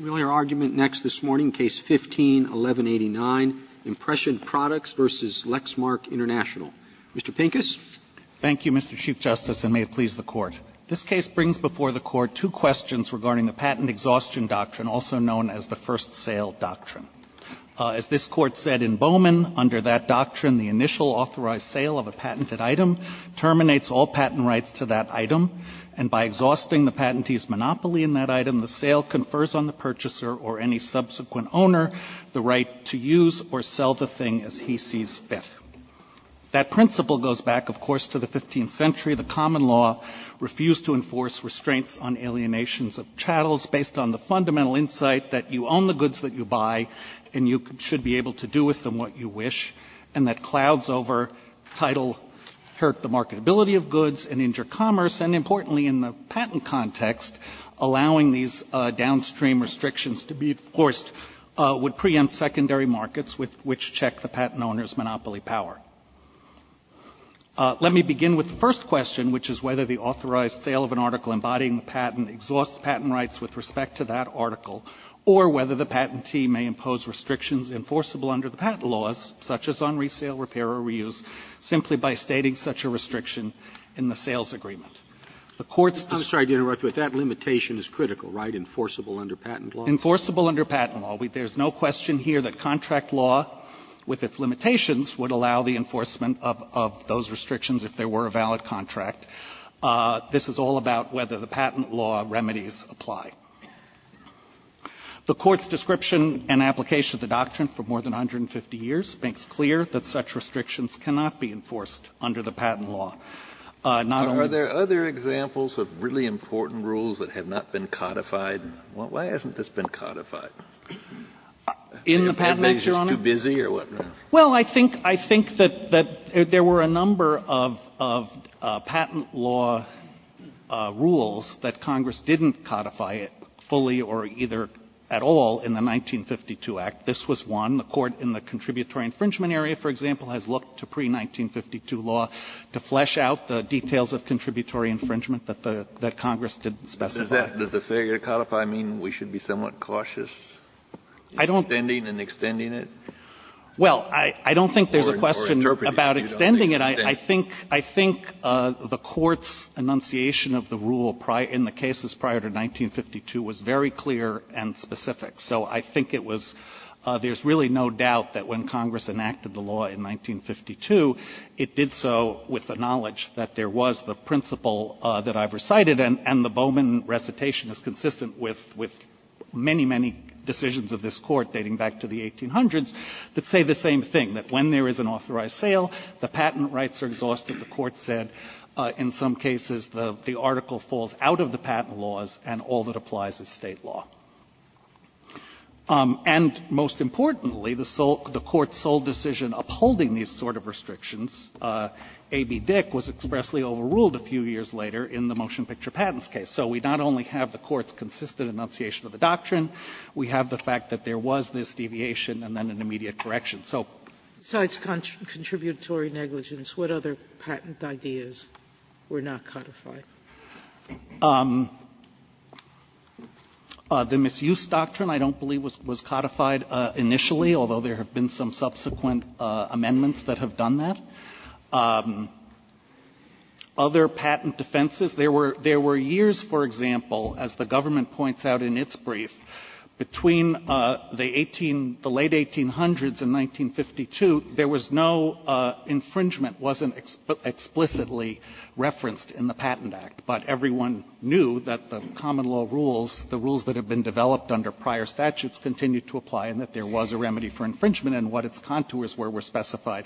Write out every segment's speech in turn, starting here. Roberts, Jr.: We have our argument next this morning, Case No. 15-1189, Impression Products v. Lexmark Int'l. Mr. Pincus. Pincus, Jr.: Thank you, Mr. Chief Justice, and may it please the Court. This case brings before the Court two questions regarding the patent exhaustion doctrine, also known as the first sale doctrine. As this Court said in Bowman, under that doctrine, the initial authorized sale of a patented item terminates all patent rights to that item, and by exhausting the patentee's monopoly in that item, the sale confers on the purchaser or any subsequent owner the right to use or sell the thing as he sees fit. That principle goes back, of course, to the 15th century. The common law refused to enforce restraints on alienations of chattels based on the fundamental insight that you own the goods that you buy and you should be able to do with them what you wish, and that clouds over title hurt the marketability of goods and injure commerce, and importantly, in the patent context, allowing these downstream restrictions to be enforced would preempt secondary markets with which to check the patent owner's monopoly power. Let me begin with the first question, which is whether the authorized sale of an article embodying the patent exhausts patent rights with respect to that article, or whether the patentee may impose restrictions enforceable under the patent laws, such as on resale, repair, or reuse, simply by stating such a restriction in the sales agreement. The Court's description of the patent law remedies apply. The Court's description and application of the doctrine for more than 150 years makes clear that such restrictions cannot be enforced under the patent law. Not only the patent law. Kennedy, are there other examples of really important rules that have not been codified? Why hasn't this been codified? In the Patent Act, Your Honor? Too busy or what? Well, I think that there were a number of patent law rules that Congress didn't codify fully or either at all in the 1952 Act. This was one. The Court in the contributory infringement area, for example, has looked to pre-1952 law to flesh out the details of contributory infringement that the Congress didn't specify. Does the failure to codify mean we should be somewhat cautious in extending and extending it? Well, I don't think there's a question about extending it. I think the Court's enunciation of the rule in the cases prior to 1952 was very clear and specific. So I think it was — there's really no doubt that when Congress enacted the law in 1952, it did so with the knowledge that there was the principle that I've recited and the Bowman recitation is consistent with many, many decisions of this Court dating back to the 1800s that say the same thing, that when there is an authorized sale, the patent rights are exhausted. The Court said in some cases the article falls out of the patent laws and all that applies is State law. And most importantly, the Court's sole decision upholding these sort of restrictions, A.B. Dick, was expressly overruled a few years later in the motion picture patents case. So we not only have the Court's consistent enunciation of the doctrine, we have the fact that there was this deviation and then an immediate correction. So — Sotomayor, besides contributory negligence, what other patent ideas were not codified? Pincushion The Misuse Doctrine, I don't believe, was codified initially, although there have been some subsequent amendments that have done that. Other patent defenses, there were — there were years, for example, as the government points out in its brief, between the 18 — the late 1800s and 1952, there was no infringement that wasn't explicitly referenced in the Patent Act. But everyone knew that the common law rules, the rules that have been developed under prior statutes, continued to apply and that there was a remedy for infringement and what its contours were were specified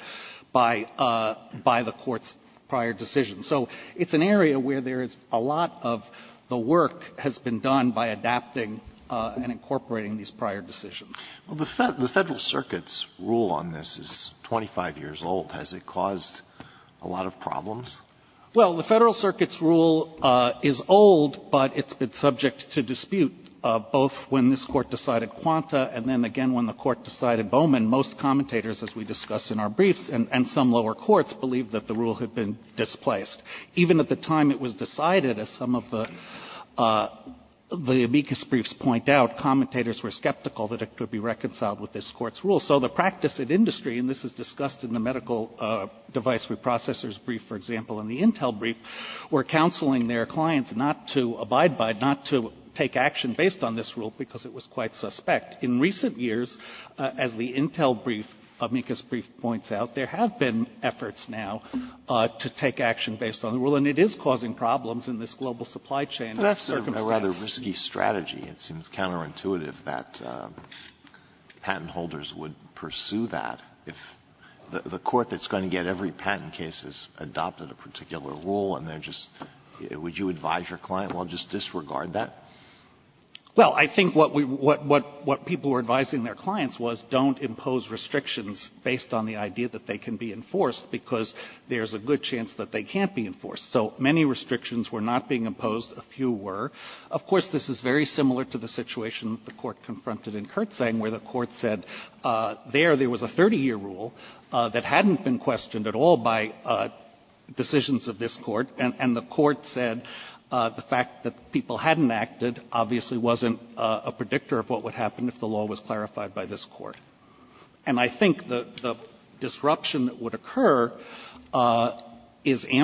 by the Court's prior decision. So it's an area where there is a lot of the work has been done by adapting and incorporating these prior decisions. Alito The Federal Circuit's rule on this is 25 years old. Has it caused a lot of problems? Pincushion Well, the Federal Circuit's rule is old, but it's been subject to dispute both when this Court decided Quanta and then again when the Court decided Bowman. Most commentators, as we discussed in our briefs, and some lower courts, believed that the rule had been displaced. Even at the time it was decided, as some of the amicus briefs point out, commentators were skeptical that it could be reconciled with this Court's rule. So the practice in industry, and this is discussed in the medical device reprocessors brief, for example, in the Intel brief, were counseling their clients not to abide by, not to take action based on this rule because it was quite suspect. In recent years, as the Intel brief, amicus brief points out, there have been efforts now to take action based on the rule, and it is causing problems in this global supply chain circumstance. Alito, it seems counterintuitive that patent holders would pursue that if the court that's going to get every patent case has adopted a particular rule, and they're just, would you advise your client, well, just disregard that? Pincushion Well, I think what we, what people were advising their clients was don't impose restrictions based on the idea that they can be enforced because there's a good chance that they can't be enforced. So many restrictions were not being imposed, a few were. Of course, this is very similar to the situation the Court confronted in Kurtzang, where the Court said there, there was a 30-year rule that hadn't been questioned at all by decisions of this Court, and the Court said the fact that people hadn't acted obviously wasn't a predictor of what would happen if the law was clarified by this Court. So I think this is a very similar situation to the one that was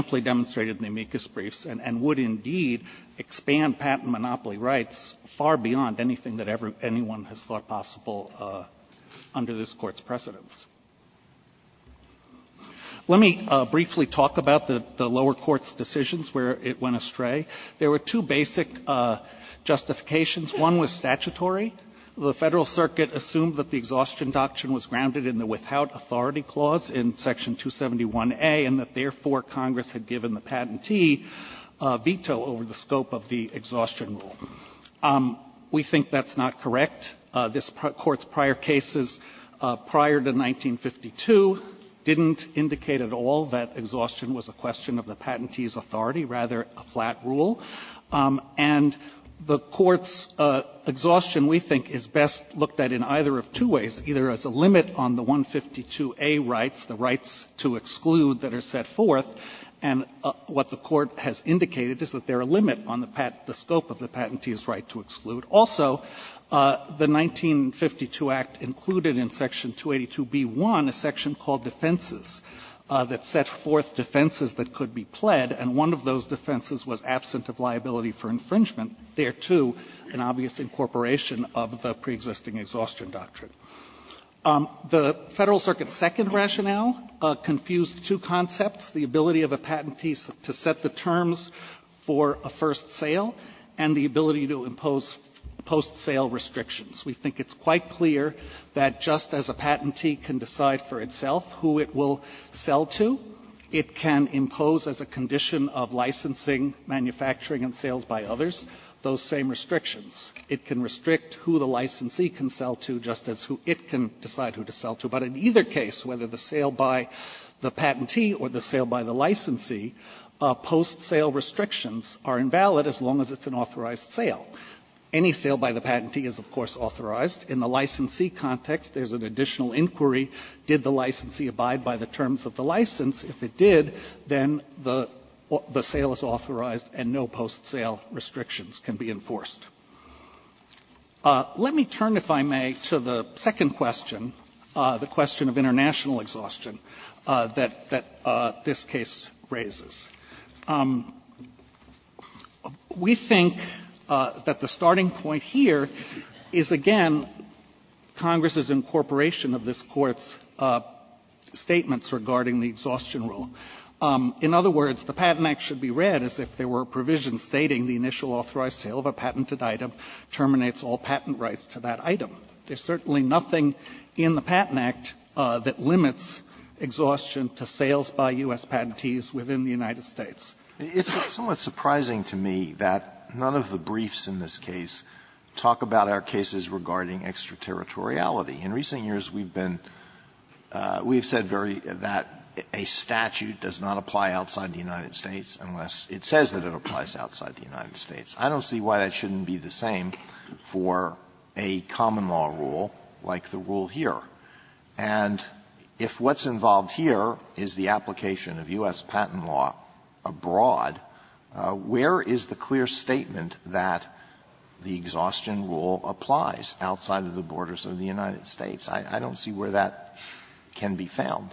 presented in the amicus briefs, and would indeed expand patent monopoly rights far beyond anything that anyone has thought possible under this Court's precedents. Let me briefly talk about the lower court's decisions where it went astray. There were two basic justifications. One was statutory. The Federal Circuit assumed that the exhaustion doctrine was grounded in the without authority clause in Section 271A, and that, therefore, Congress had given the patentee a veto over the scope of the exhaustion rule. We think that's not correct. This Court's prior cases prior to 1952 didn't indicate at all that exhaustion was a question of the patentee's authority, rather a flat rule. And the Court's exhaustion, we think, is best looked at in either of two ways, either as a limit on the 152A rights, the rights to exclude that are set forth, and what the Court has indicated is that they're a limit on the scope of the patentee's right to exclude. Also, the 1952 Act included in Section 282b-1 a section called defenses that set forth defenses that could be pled, and one of those defenses was absent of liability for infringement, thereto an obvious incorporation of the preexisting exhaustion doctrine. The Federal Circuit's second rationale confused two concepts, the ability of a patentee to set the terms for a first sale and the ability to impose post-sale restrictions. We think it's quite clear that just as a patentee can decide for itself who it will sell to, it can impose as a condition of licensing, manufacturing, and sales by others those same restrictions. It can restrict who the licensee can sell to just as who it can decide who to sell to. But in either case, whether the sale by the patentee or the sale by the licensee, post-sale restrictions are invalid as long as it's an authorized sale. Any sale by the patentee is, of course, authorized. In the licensee context, there's an additional inquiry, did the licensee abide by the terms of the license? If it did, then the sale is authorized and no post-sale restrictions can be enforced. Let me turn, if I may, to the second question, the question of international exhaustion that this case raises. We think that the starting point here is, again, Congress's incorporation of this Court's statements regarding the exhaustion rule. In other words, the Patent Act should be read as if there were provisions stating the initial authorized sale of a patented item terminates all patent rights to that item. There's certainly nothing in the Patent Act that limits exhaustion to sales by U.S. patentees within the United States. Alito, it's somewhat surprising to me that none of the briefs in this case talk about our cases regarding extraterritoriality. In recent years, we've been we've said very that a statute does not apply outside the United States unless it says that it applies outside the United States. I don't see why that shouldn't be the same for a common law rule like the rule here. And if what's involved here is the application of U.S. patent law abroad, where is the clear statement that the exhaustion rule applies outside of the borders of the United States? I don't see where that can be found.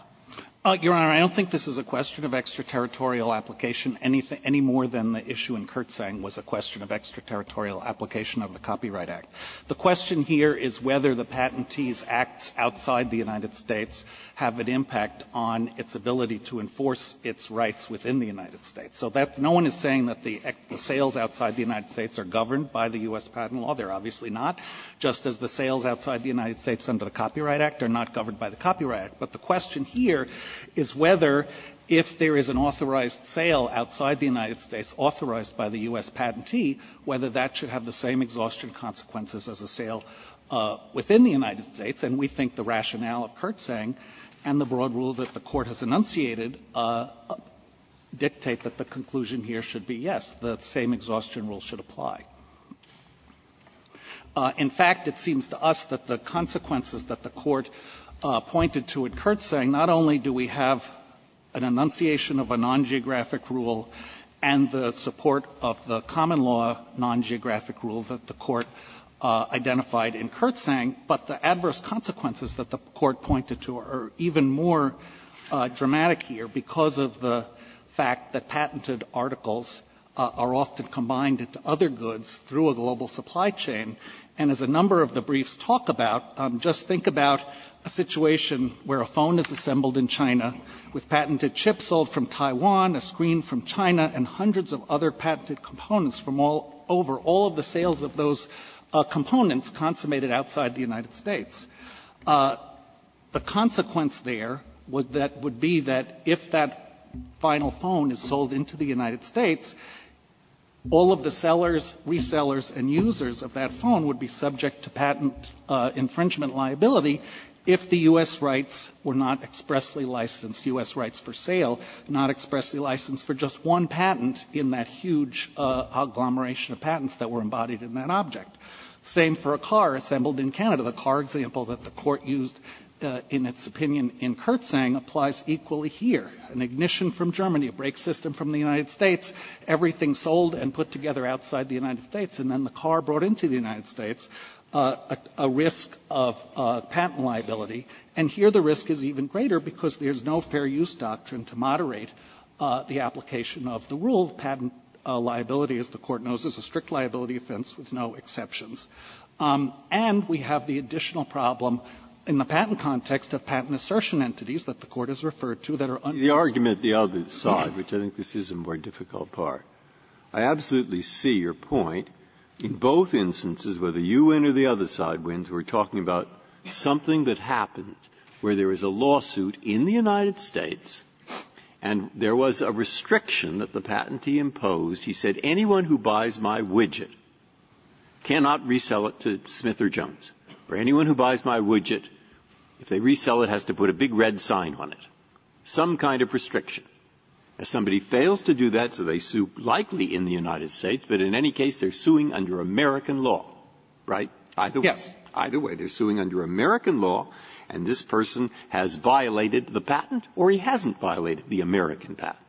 Pincus, your Honor, I don't think this is a question of extraterritorial application any more than the issue in Kertsang was a question of extraterritorial application of the Copyright Act. The question here is whether the patentees' acts outside the United States have an impact on its ability to enforce its rights within the United States. So that no one is saying that the sales outside the United States are governed by the U.S. patent law. They're obviously not. Just as the sales outside the United States under the Copyright Act are not governed by the Copyright Act. But the question here is whether, if there is an authorized sale outside the United States authorized by the U.S. patentee, whether that should have the same exhaustion consequences as a sale within the United States. And we think the rationale of Kertsang and the broad rule that the Court has enunciated dictate that the conclusion here should be, yes, the same exhaustion rule should apply. In fact, it seems to us that the consequences that the Court pointed to in Kertsang not only do we have an enunciation of a non-geographic rule and the support of the common law non-geographic rule that the Court identified in Kertsang, but the adverse consequences that the Court pointed to are even more dramatic here because of the fact that patented articles are often combined into other goods through a global supply chain. And as a number of the briefs talk about, just think about a situation where a phone is assembled in China with patented chips sold from Taiwan, a screen from China, and hundreds of other patented components from all over, all of the sales of those components consummated outside the United States. The consequence there that would be that if that final phone is sold into the United States, all of the sellers, resellers, and users of that phone would be subject to patent infringement liability if the U.S. rights were not expressly licensed, U.S. rights for sale, not expressly licensed for just one patent in that huge agglomeration of patents that were embodied in that object. Same for a car assembled in Canada. The car example that the Court used in its opinion in Kertsang applies equally here. An ignition from Germany, a brake system from the United States, everything sold and put together outside the United States, and then the car brought into the United States, a risk of patent liability. And here the risk is even greater because there is no fair use doctrine to moderate the application of the rule. Patent liability, as the Court knows, is a strict liability offense with no exceptions. And we have the additional problem in the patent context of patent assertion entities that the Court has referred to that are unconstitutional. Breyer. The argument, the other side, which I think this is a more difficult part, I absolutely see your point. In both instances, whether you win or the other side wins, we're talking about something that happened where there was a lawsuit in the United States and there was a restriction that the patentee imposed. He said anyone who buys my widget cannot resell it to Smith or Jones, or anyone who buys my widget, if they resell it, has to put a big red sign on it, some kind of restriction. If somebody fails to do that, so they sue likely in the United States, but in any case, they're suing under American law, right? Yes. Either way, they're suing under American law, and this person has violated the patent or he hasn't violated the American patent.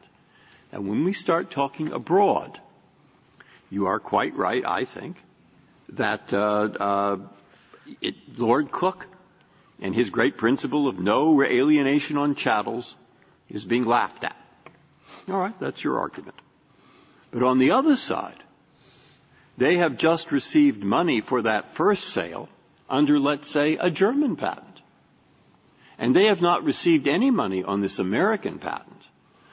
Now, when we start talking abroad, you are quite right, I think, that Lord Cook and his great principle of no alienation on chattels is being laughed at. All right, that's your argument. But on the other side, they have just received money for that first sale under, let's say, a German patent. And they have not received any money on this American patent.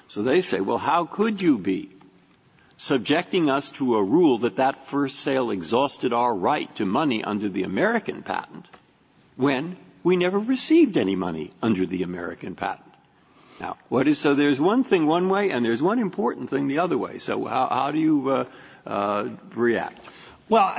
So they say, well, how could you be subjecting us to a rule that that first sale exhausted our right to money under the American patent when we never received any money under the American patent? Now, what is so there's one thing one way, and there's one important thing the other way. So how do you react? Well,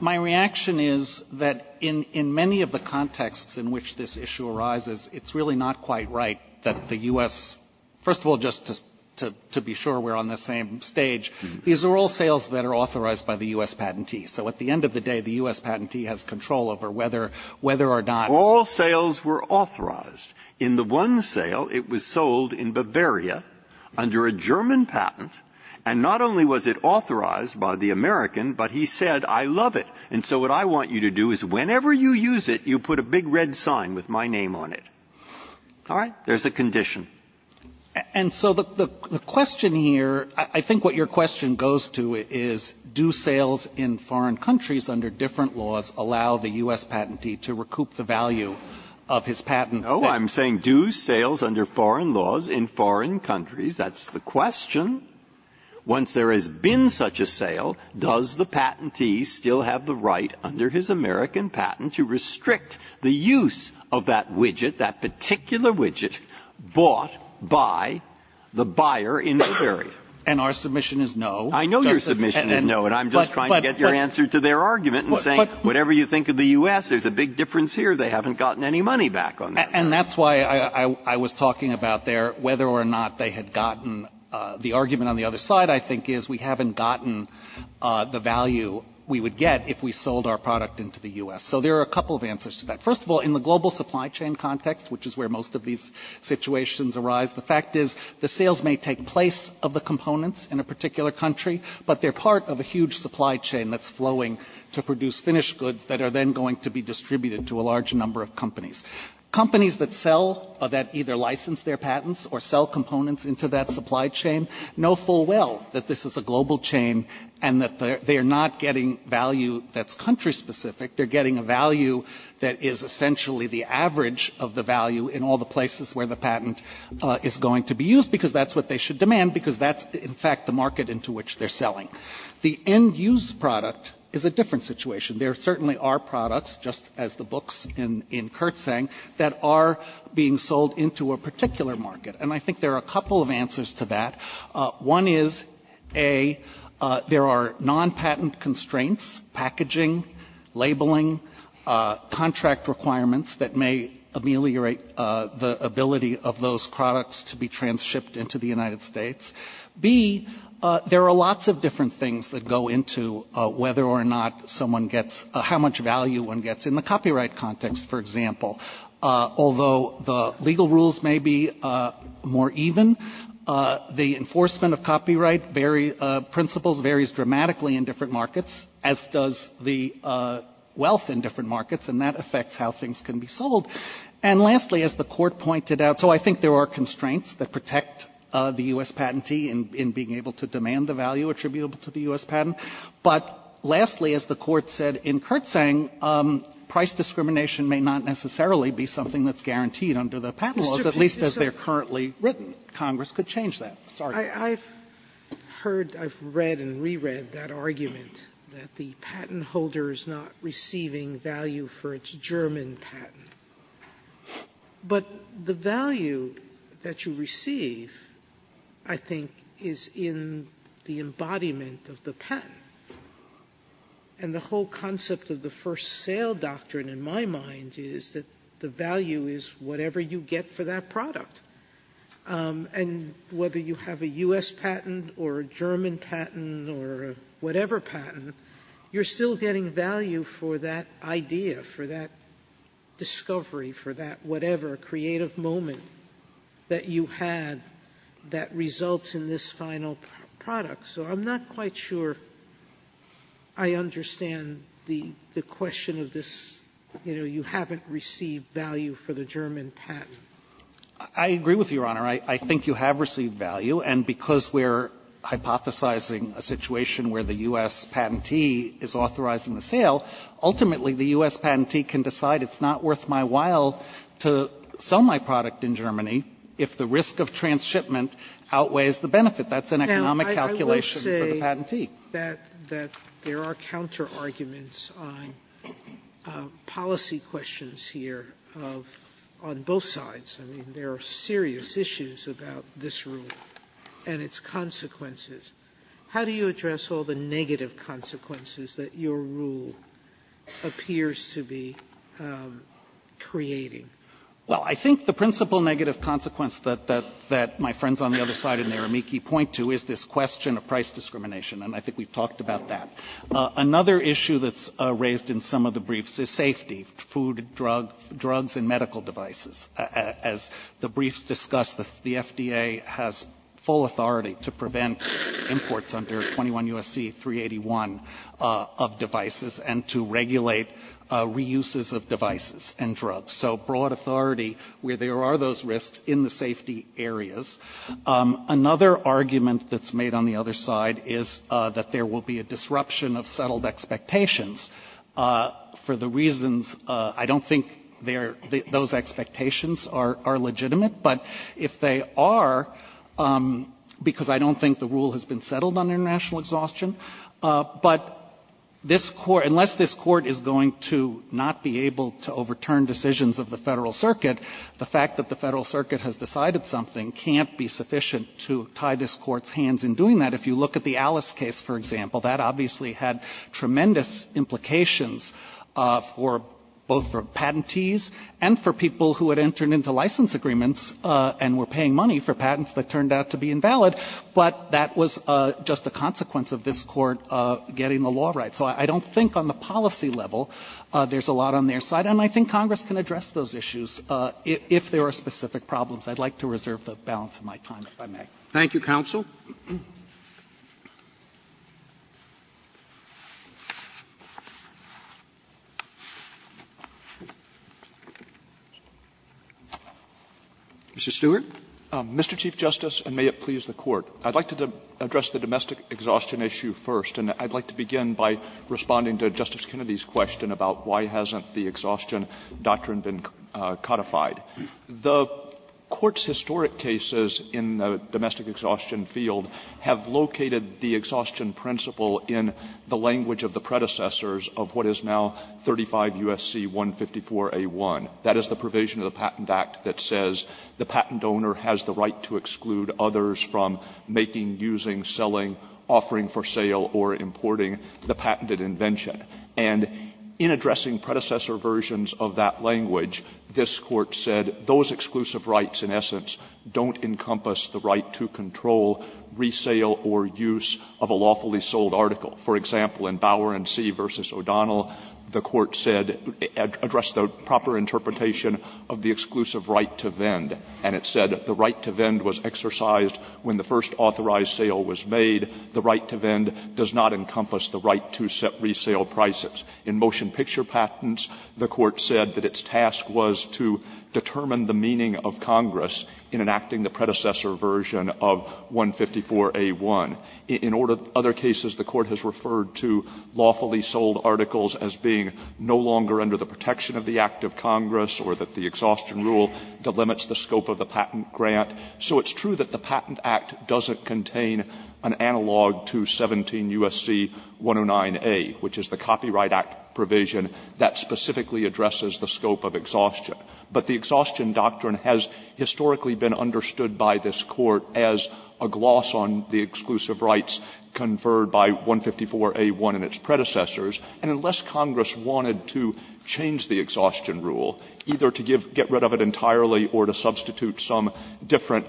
my reaction is that in many of the contexts in which this issue arises, it's really not quite right that the U.S. First of all, just to be sure we're on the same stage, these are all sales that are authorized by the U.S. patentee. So at the end of the day, the U.S. patentee has control over whether or not. All sales were authorized. In the one sale, it was sold in Bavaria under a German patent. And not only was it authorized by the American, but he said, I love it. And so what I want you to do is whenever you use it, you put a big red sign with my name on it. All right? There's a condition. And so the question here, I think what your question goes to is, do sales in foreign countries under different laws allow the U.S. patentee to recoup the value of his patent? Oh, I'm saying do sales under foreign laws in foreign countries, that's the question. Once there has been such a sale, does the patentee still have the right under his patent to recoup the value of that particular widget bought by the buyer in Bavaria? And our submission is no. I know your submission is no, and I'm just trying to get your answer to their argument and saying, whatever you think of the U.S., there's a big difference here. They haven't gotten any money back on that. And that's why I was talking about their whether or not they had gotten the argument on the other side, I think, is we haven't gotten the value we would get if we sold our product into the U.S. So there are a couple of answers to that. First of all, in the global supply chain context, which is where most of these situations arise, the fact is the sales may take place of the components in a particular country, but they're part of a huge supply chain that's flowing to produce finished goods that are then going to be distributed to a large number of companies. Companies that sell or that either license their patents or sell components into that supply chain know full well that this is a global chain and that they are not getting value that's country-specific. They're getting a value that is essentially the average of the value in all the places where the patent is going to be used, because that's what they should demand, because that's, in fact, the market into which they're selling. The end-use product is a different situation. There certainly are products, just as the books in Kurt's saying, that are being sold into a particular market. And I think there are a couple of answers to that. One is, A, there are non-patent constraints, packaging, labeling, contract requirements that may ameliorate the ability of those products to be trans-shipped into the United States. B, there are lots of different things that go into whether or not someone gets, how much value one gets in the copyright context, for example. Although the legal rules may be more even, the enforcement of copyright principles varies dramatically in different markets, as does the wealth in different markets, and that affects how things can be sold. And lastly, as the Court pointed out, so I think there are constraints that protect the U.S. patentee in being able to demand the value attributable to the U.S. patent. But lastly, as the Court said in Kurt's saying, price discrimination may not necessarily be something that's guaranteed under the patent laws, at least as they're currently written. Congress could change that. Sorry. Sotomayor, I've heard, I've read and re-read that argument that the patent holder is not receiving value for its German patent, but the value that you receive, I think, is in the embodiment of the patent. And the whole concept of the first sale doctrine, in my mind, is that the value is whatever you get for that product. And whether you have a U.S. patent or a German patent or whatever patent, you're still getting value for that idea, for that discovery, for that whatever creative moment that you had that results in this final product. So I'm not quite sure I understand the question of this, you know, you haven't received value for the German patent. I agree with you, Your Honor. I think you have received value. And because we're hypothesizing a situation where the U.S. patentee is authorizing the sale, ultimately, the U.S. patentee can decide it's not worth my while to sell my product in Germany if the risk of transshipment outweighs the benefit. That's an economic calculation for the patentee. Sotomayor, I will say that there are counterarguments on policy questions here of – on both sides. I mean, there are serious issues about this rule and its consequences. How do you address all the negative consequences that your rule appears to be creating? Well, I think the principal negative consequence that my friends on the other side in Naramiki point to is this question of price discrimination, and I think we've talked about that. Another issue that's raised in some of the briefs is safety, food, drugs, and medical devices. As the briefs discuss, the FDA has full authority to prevent imports under 21 U.S.C. 381 of devices and to regulate reuses of devices and drugs. So broad authority where there are those risks in the safety areas. Another argument that's made on the other side is that there will be a disruption of settled expectations for the reasons – I don't think those expectations are legitimate, but if they are, because I don't think the rule has been settled on international exhaustion, but this – unless this Court is going to not be able to overturn decisions of the Federal Circuit, the fact that the Federal Circuit has decided something can't be sufficient to tie this Court's hands in doing that. If you look at the Alice case, for example, that obviously had tremendous implications for – both for patentees and for people who had entered into license agreements and were paying money for patents that turned out to be invalid, but that was just a consequence of this Court getting the law right. So I don't think on the policy level there's a lot on their side. And I think Congress can address those issues if there are specific problems. I'd like to reserve the balance of my time, if I may. Roberts. Thank you, counsel. Mr. Stewart. Mr. Chief Justice, and may it please the Court. I'd like to address the domestic exhaustion issue first, and I'd like to begin by responding to Justice Kennedy's question about why hasn't the exhaustion doctrine been codified. The Court's historic cases in the domestic exhaustion field have located the exhaustion principle in the language of the predecessors of what is now 35 U.S.C. 154a1. That is the provision of the Patent Act that says the patent owner has the right to exclude others from making, using, selling, offering for sale, or importing the patented invention. And in addressing predecessor versions of that language, this Court said those exclusive rights, in essence, don't encompass the right to control, resale, or use of a lawfully sold article. For example, in Bower v. O'Donnell, the Court said, addressed the proper interpretation of the exclusive right to vend. And it said the right to vend was exercised when the first authorized sale was made. The right to vend does not encompass the right to set resale prices. In motion picture patents, the Court said that its task was to determine the meaning of Congress in enacting the predecessor version of 154a1. In other cases, the Court has referred to lawfully sold articles as being no longer under the protection of the Act of Congress, or that the exhaustion rule delimits the scope of the patent grant. So it's true that the Patent Act doesn't contain an analog to 17 U.S.C. 109a, which is the Copyright Act provision that specifically addresses the scope of exhaustion. But the exhaustion doctrine has historically been understood by this Court as a gloss on the exclusive rights conferred by 154a1 and its predecessors. And unless Congress wanted to change the exhaustion rule, either to give get rid of it entirely or to substitute some different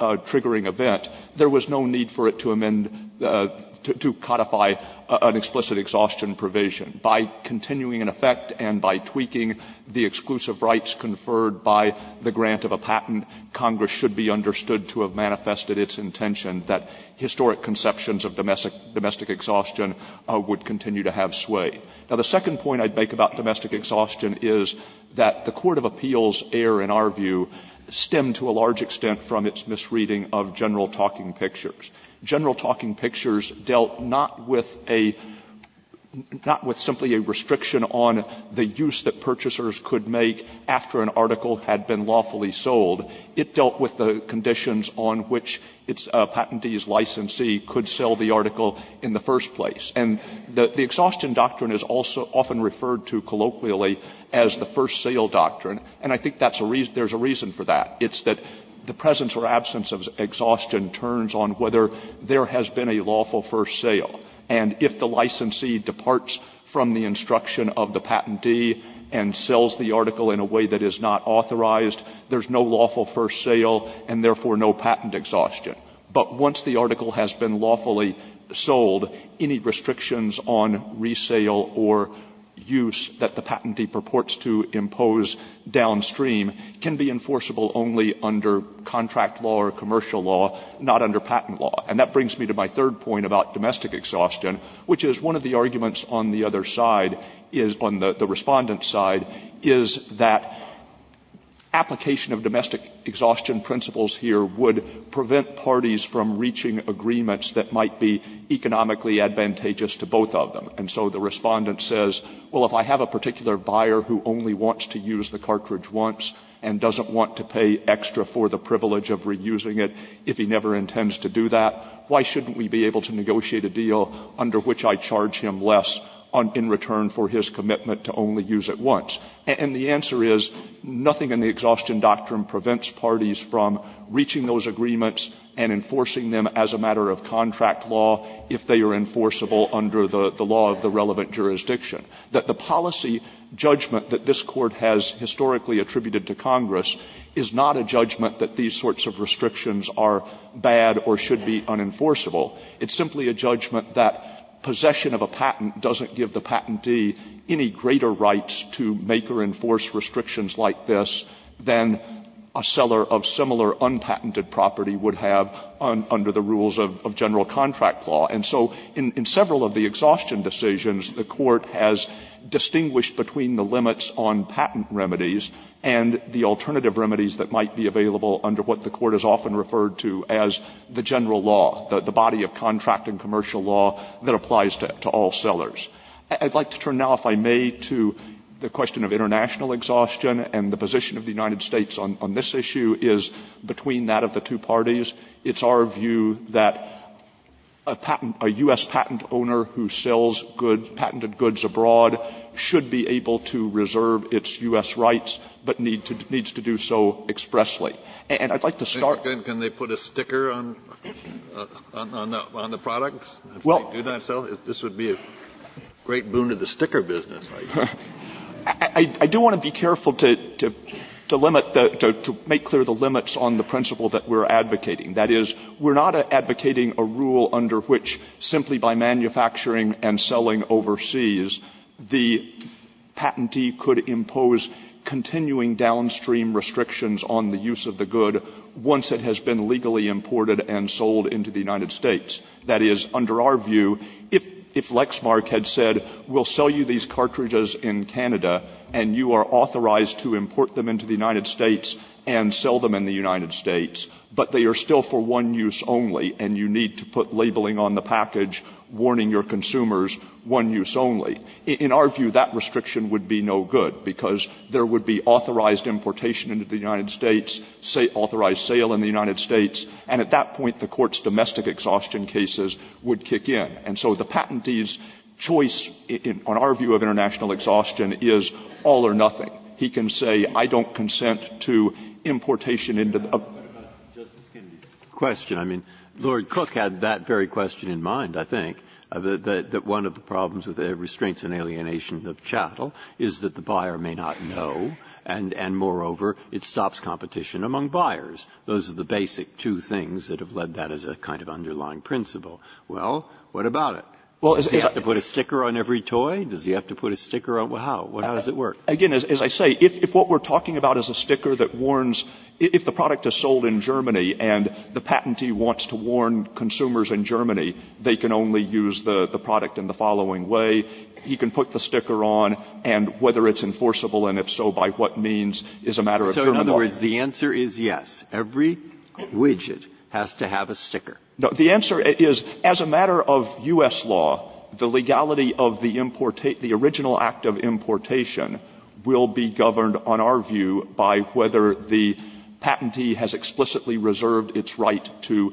triggering event, there was no need for it to amend, to codify an explicit exhaustion provision. By continuing in effect and by tweaking the exclusive rights conferred by the grant of a patent, Congress should be understood to have manifested its intention that historic conceptions of domestic exhaustion would continue to have sway. Now, the second point I'd make about domestic exhaustion is that the court of appeals error, in our view, stemmed to a large extent from its misreading of general talking pictures. General talking pictures dealt not with a — not with simply a restriction on the use that purchasers could make after an article had been lawfully sold. It dealt with the conditions on which its — a patentee's licensee could sell the article in the first place. And the exhaustion doctrine is also often referred to colloquially as the first sale doctrine. And I think that's a reason — there's a reason for that. It's that the presence or absence of exhaustion turns on whether there has been a lawful first sale. And if the licensee departs from the instruction of the patentee and sells the article in a way that is not authorized, there's no lawful first sale and, therefore, no patent exhaustion. But once the article has been lawfully sold, any restrictions on resale or use that the patentee purports to impose downstream can be enforceable only under contract law or commercial law, not under patent law. And that brings me to my third point about domestic exhaustion, which is one of the reasons that the Respondent's side is that application of domestic exhaustion principles here would prevent parties from reaching agreements that might be economically advantageous to both of them. And so the Respondent says, well, if I have a particular buyer who only wants to use the cartridge once and doesn't want to pay extra for the privilege of reusing it if he never intends to do that, why shouldn't we be able to negotiate a deal under which I charge him less in return for his commitment to only use it once? And the answer is, nothing in the exhaustion doctrine prevents parties from reaching those agreements and enforcing them as a matter of contract law if they are enforceable under the law of the relevant jurisdiction. The policy judgment that this Court has historically attributed to Congress is not a judgment that these sorts of restrictions are bad or should be unenforceable. It's simply a judgment that possession of a patent doesn't give the patentee any greater rights to make or enforce restrictions like this than a seller of similar unpatented property would have under the rules of general contract law. And so in several of the exhaustion decisions, the Court has distinguished between the limits on patent remedies and the alternative remedies that might be available under what the Court has often referred to as the general law, the body of contract and commercial law that applies to all sellers. I'd like to turn now, if I may, to the question of international exhaustion and the position of the United States on this issue is between that of the two parties. It's our view that a patent – a U.S. patent owner who sells good – patented goods abroad should be able to reserve its U.S. rights but needs to do so expressly. And I'd like to start… Kennedy, can they put a sticker on the product? Well… If they do not sell, this would be a great boon to the sticker business. I do want to be careful to limit the – to make clear the limits on the principle that we're advocating. That is, we're not advocating a rule under which simply by manufacturing and selling overseas, the patentee could impose continuing downstream restrictions on the use of the good once it has been legally imported and sold into the United States. That is, under our view, if Lexmark had said, we'll sell you these cartridges in Canada and you are authorized to import them into the United States and sell them in the United States, but they are still for one use only and you need to put labeling on the package warning your consumers, one use only, in our view, that restriction would be no good, because there would be authorized importation into the United States, authorized sale in the United States, and at that point, the Court's domestic exhaustion cases would kick in. And so the patentee's choice on our view of international exhaustion is all or nothing. He can say, I don't consent to importation into the upcoming… Justice Kennedy's question, I mean, Lord Cook had that very question in mind, I think, that one of the problems with the restraints and alienation of chattel is that the buyer may not know, and moreover, it stops competition among buyers. Those are the basic two things that have led that as a kind of underlying principle. Well, what about it? Does he have to put a sticker on every toy? Does he have to put a sticker on how? How does it work? Stewart. Again, as I say, if what we are talking about is a sticker that warns, if the product is sold in Germany and the patentee wants to warn consumers in Germany, they can only use the product in the following way. He can put the sticker on, and whether it's enforceable, and if so, by what means, is a matter of German law. So in other words, the answer is yes, every widget has to have a sticker. No, the answer is, as a matter of U.S. law, the legality of the importate the original act of importation will be governed on our view by whether the patentee has explicitly reserved its right to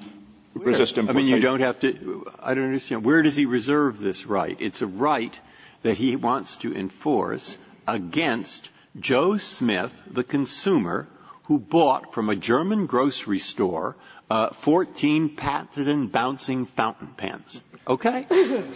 resist importation. Breyer. I mean, you don't have to – I don't understand. Where does he reserve this right? It's a right that he wants to enforce against Joe Smith, the consumer, who bought from a German grocery store 14 patented and bouncing fountain pens. Okay?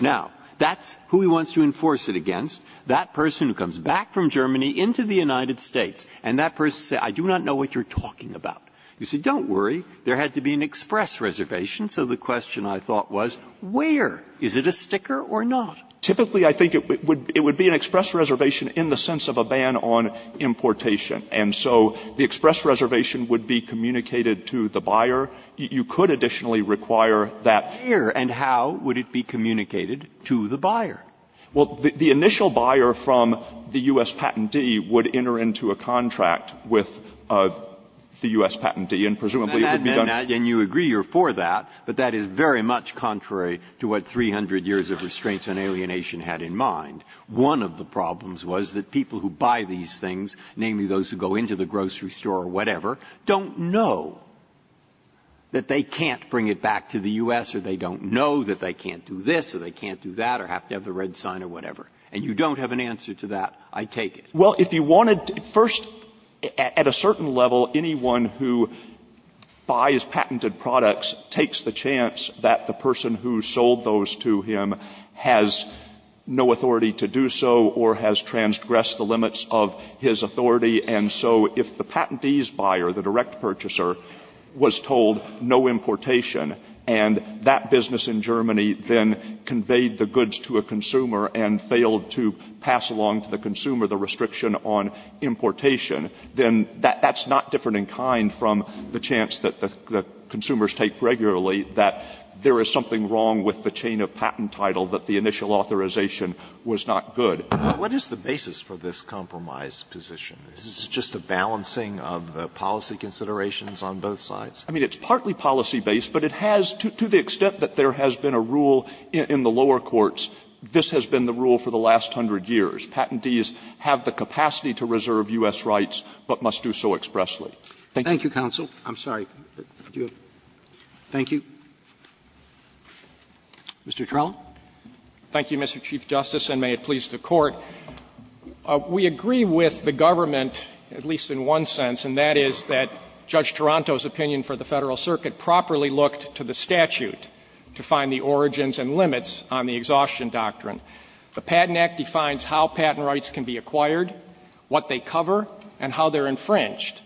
Now, that's who he wants to enforce it against, that person who comes back from Germany into the United States, and that person says, I do not know what you're talking about. You say, don't worry. There had to be an express reservation, so the question, I thought, was where? Is it a sticker or not? Typically, I think it would be an express reservation in the sense of a ban on importation. And so the express reservation would be communicated to the buyer. You could additionally require that. Here, and how would it be communicated to the buyer? Well, the initial buyer from the U.S. patentee would enter into a contract with the U.S. patentee, and presumably it would be done. And you agree you're for that, but that is very much contrary to what 300 years of restraints on alienation had in mind. One of the problems was that people who buy these things, namely those who go into the grocery store or whatever, don't know that they can't bring it back to the U.S., or they don't know that they can't do this, or they can't do that, or have to have the red sign or whatever. And you don't have an answer to that, I take it. Well, if you wanted to — first, at a certain level, anyone who buys patented products takes the chance that the person who sold those to him has no authority to do so or has transgressed the limits of his authority. And so if the patentee's buyer, the direct purchaser, was told no importation and that business in Germany then conveyed the goods to a consumer and failed to pass along to the consumer the restriction on importation, then that's not different in kind from the chance that the consumers take regularly that there is something wrong with the chain of patent title that the initial authorization was not good. What is the basis for this compromise position? Is this just a balancing of the policy considerations on both sides? I mean, it's partly policy-based, but it has, to the extent that there has been a rule in the lower courts, this has been the rule for the last hundred years. Patentees have the capacity to reserve U.S. rights but must do so expressly. Thank you. Roberts. Thank you, counsel. I'm sorry. Thank you. Mr. Trelaw. Thank you, Mr. Chief Justice, and may it please the Court. We agree with the government, at least in one sense, and that is that Judge Toronto's opinion for the Federal Circuit properly looked to the statute to find the origins and limits on the exhaustion doctrine. The Patent Act defines how patent rights can be acquired, what they cover, and how they're infringed.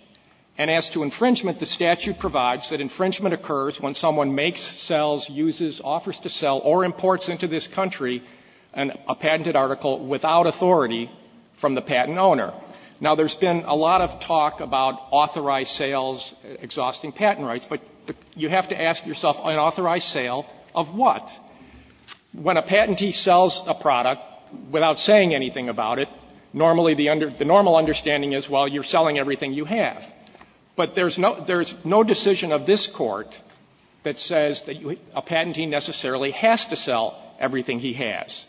And as to infringement, the statute provides that infringement occurs when someone makes, sells, uses, offers to sell or imports into this country a patented article without authority from the patent owner. Now, there's been a lot of talk about authorized sales exhausting patent rights, but you have to ask yourself, unauthorized sale of what? When a patentee sells a product without saying anything about it, normally the under the normal understanding is, well, you're selling everything you have. But there's no decision of this Court that says that a patentee necessarily has to sell everything he has.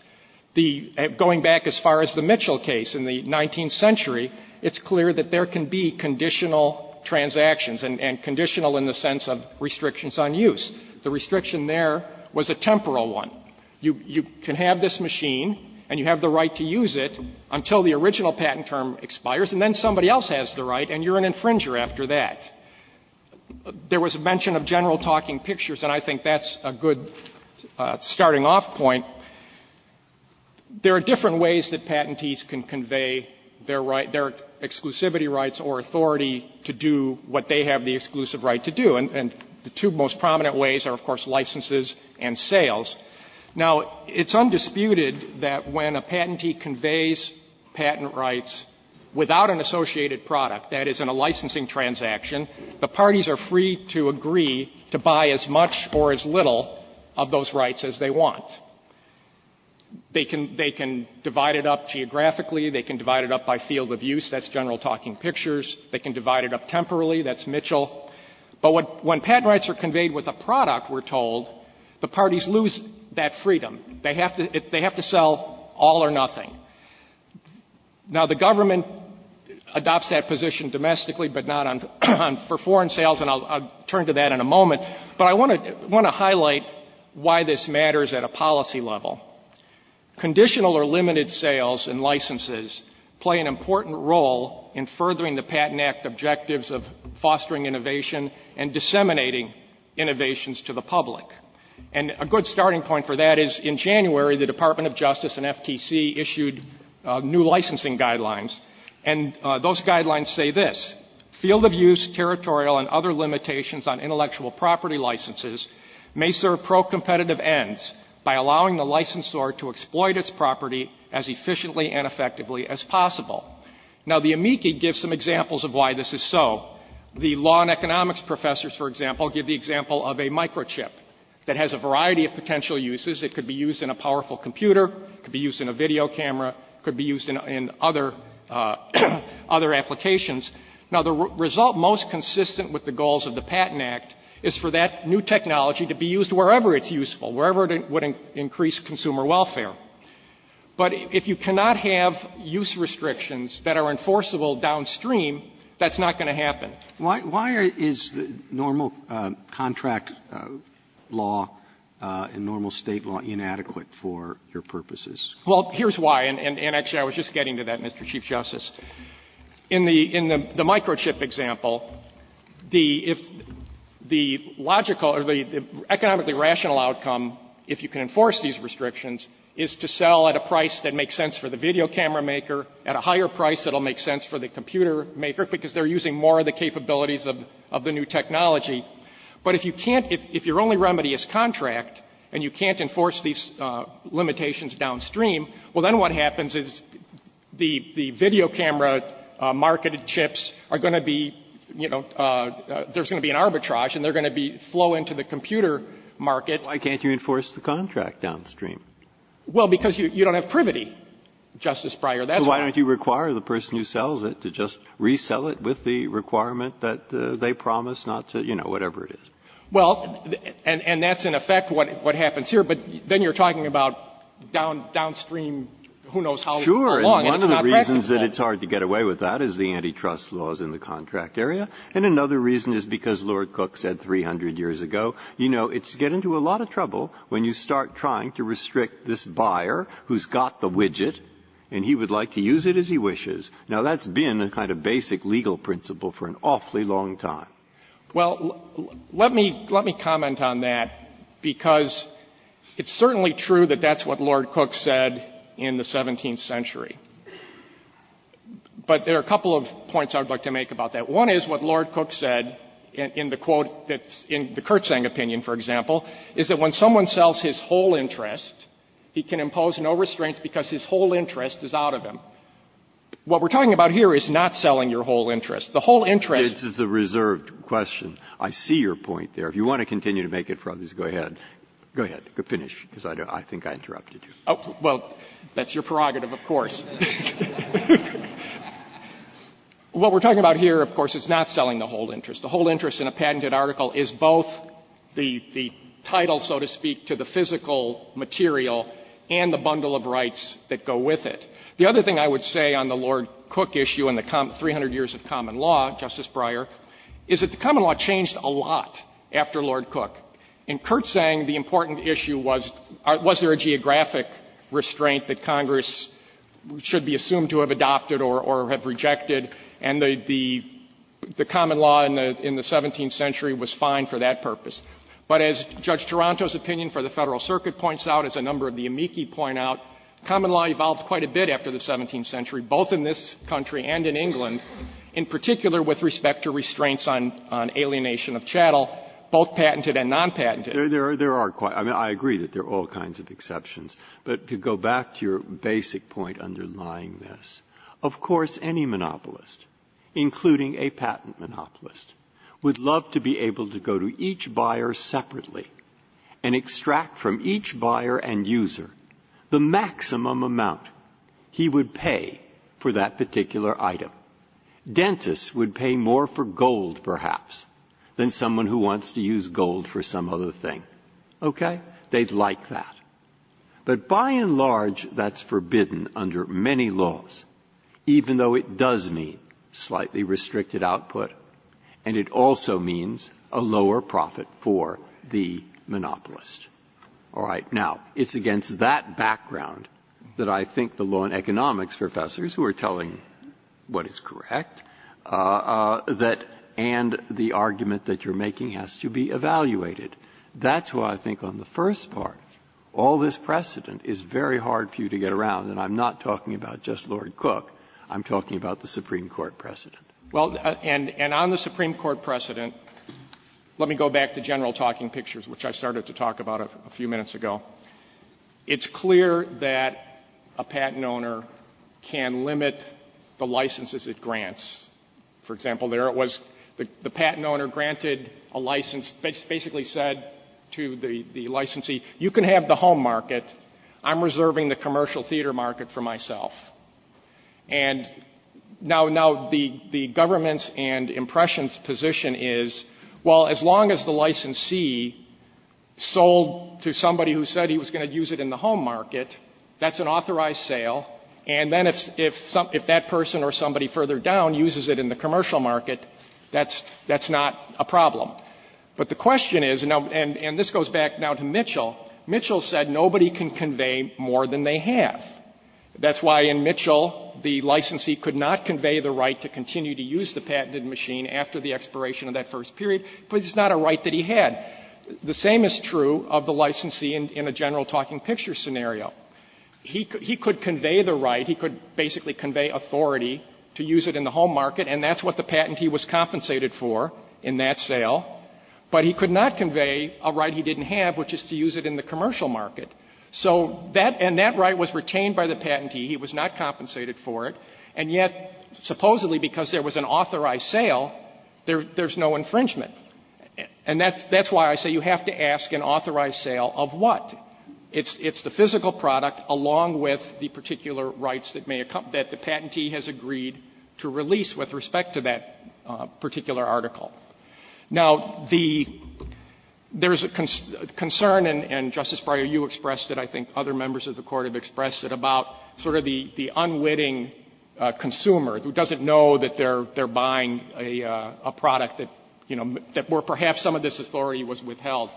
The going back as far as the Mitchell case in the 19th century, it's clear that there can be conditional transactions and conditional in the sense of restrictions on use. The restriction there was a temporal one. You can have this machine and you have the right to use it until the original patent term expires, and then somebody else has the right and you're an infringer after that. There was a mention of general talking pictures, and I think that's a good starting off point. There are different ways that patentees can convey their right, their exclusivity rights or authority, to do what they have the exclusive right to do. And the two most prominent ways are, of course, licenses and sales. Now, it's undisputed that when a patentee conveys patent rights without an associated product, that is, in a licensing transaction, the parties are free to agree to buy as much or as little of those rights as they want. They can divide it up geographically. They can divide it up by field of use. That's general talking pictures. They can divide it up temporally. That's Mitchell. But when patent rights are conveyed with a product, we're told, the parties lose that freedom. They have to sell all or nothing. Now, the government adopts that position domestically, but not for foreign sales, and I'll turn to that in a moment. But I want to highlight why this matters at a policy level. Conditional or limited sales and licenses play an important role in furthering the Patent Act objectives of fostering innovation and disseminating innovations to the public. And a good starting point for that is, in January, the Department of Justice and FTC issued new licensing guidelines, and those guidelines say this, field of use, territorial, and other limitations on intellectual property licenses may serve pro-competitive ends by allowing the licensor to exploit its property as efficiently and effectively as possible. Now, the amici give some examples of why this is so. The law and economics professors, for example, give the example of a microchip that has a variety of potential uses. It could be used in a powerful computer. It could be used in a video camera. It could be used in other applications. Now, the result most consistent with the goals of the Patent Act is for that new technology to be used wherever it's useful, wherever it would increase consumer welfare. But if you cannot have use restrictions that are enforceable downstream, that's not going to happen. Roberts. Why is normal contract law and normal State law inadequate for your purposes? Well, here's why, and actually I was just getting to that, Mr. Chief Justice. In the microchip example, the logical or the economically rational outcome, if you can enforce these restrictions, is to sell at a price that makes sense for the video camera maker, at a higher price that will make sense for the computer maker, because they're using more of the capabilities of the new technology. But if you can't, if your only remedy is contract and you can't enforce these limitations downstream, well, then what happens is the video camera marketed chips are going to be, you know, there's going to be an arbitrage and they're going to be flow into the computer market. Why can't you enforce the contract downstream? Well, because you don't have privity, Justice Breyer. That's why. So why don't you require the person who sells it to just resell it with the requirement that they promise not to, you know, whatever it is? Well, and that's in effect what happens here. But then you're talking about downstream, who knows how long, and it's not practical. Breyer. One of the reasons that it's hard to get away with that is the antitrust laws in the contract area. And another reason is because Lord Cook said 300 years ago, you know, it's getting to a lot of trouble when you start trying to restrict this buyer who's got the widget and he would like to use it as he wishes. Now, that's been a kind of basic legal principle for an awfully long time. Well, let me comment on that, because it's certainly true that that's what Lord Cook said in the 17th century. But there are a couple of points I would like to make about that. One is what Lord Cook said in the quote that's in the Kirtzang opinion, for example, is that when someone sells his whole interest, he can impose no restraints because his whole interest is out of him. What we're talking about here is not selling your whole interest. The whole interest is the reserved. And I think that's a very important question. I see your point there. If you want to continue to make it further, go ahead. Go ahead. Finish, because I think I interrupted you. Oh, well, that's your prerogative, of course. What we're talking about here, of course, is not selling the whole interest. The whole interest in a patented article is both the title, so to speak, to the physical material and the bundle of rights that go with it. The other thing I would say on the Lord Cook issue and the 300 years of common law, Justice Breyer, is that the common law changed a lot after Lord Cook. In Kirtzang, the important issue was, was there a geographic restraint that Congress should be assumed to have adopted or have rejected, and the common law in the 17th century was fine for that purpose. But as Judge Taranto's opinion for the Federal Circuit points out, as a number of the amici point out, common law evolved quite a bit after the 17th century, both in this country and in England, in particular with respect to restraints on alienation of chattel, both patented and non-patented. There are quite – I mean, I agree that there are all kinds of exceptions. But to go back to your basic point underlying this, of course, any monopolist, including a patent monopolist, would love to be able to go to each buyer separately and extract from each buyer and user the maximum amount he would pay for that particular item. Dentists would pay more for gold, perhaps, than someone who wants to use gold for some other thing. Okay? They'd like that. But by and large, that's forbidden under many laws, even though it does mean slightly monopolist. All right. Now, it's against that background that I think the law and economics professors, who are telling what is correct, that – and the argument that you're making has to be evaluated. That's why I think on the first part, all this precedent is very hard for you to get around, and I'm not talking about just Lord Cook. I'm talking about the Supreme Court precedent. Well, and on the Supreme Court precedent, let me go back to general talking pictures, which I started to talk about a few minutes ago. It's clear that a patent owner can limit the licenses it grants. For example, there it was, the patent owner granted a license, basically said to the licensee, you can have the home market. I'm reserving the commercial theater market for myself. And now the government's and Impression's position is, well, as long as the licensee sold to somebody who said he was going to use it in the home market, that's an authorized sale, and then if that person or somebody further down uses it in the commercial market, that's not a problem. But the question is, and this goes back now to Mitchell, Mitchell said nobody can convey more than they have. That's why in Mitchell, the licensee could not convey the right to continue to use the patented machine after the expiration of that first period, because it's not a right that he had. The same is true of the licensee in a general talking picture scenario. He could convey the right, he could basically convey authority to use it in the home market, and that's what the patentee was compensated for in that sale, but he could not convey a right he didn't have, which is to use it in the commercial market. So that and that right was retained by the patentee. He was not compensated for it. And yet, supposedly because there was an authorized sale, there's no infringement. And that's why I say you have to ask an authorized sale of what? It's the physical product along with the particular rights that may accompany that the patentee has agreed to release with respect to that particular article. Now, the – there's a concern, and Justice Breyer, you expressed it, I think other members of the Court have expressed it, about sort of the unwitting consumer who doesn't know that they're buying a product that, you know, that were perhaps some of this authority was withheld.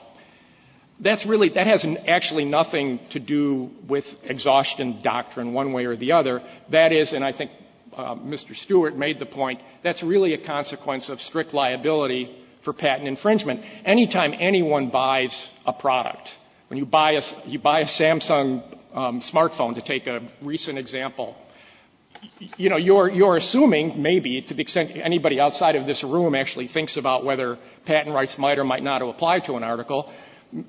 That's really – that has actually nothing to do with exhaustion doctrine one way or the other. That is, and I think Mr. Stewart made the point, that's really a consequence of strict liability for patent infringement. Any time anyone buys a product, when you buy a – you buy a Samsung smartphone, to take a recent example, you know, you're assuming maybe to the extent anybody outside of this room actually thinks about whether patent rights might or might not apply to an article,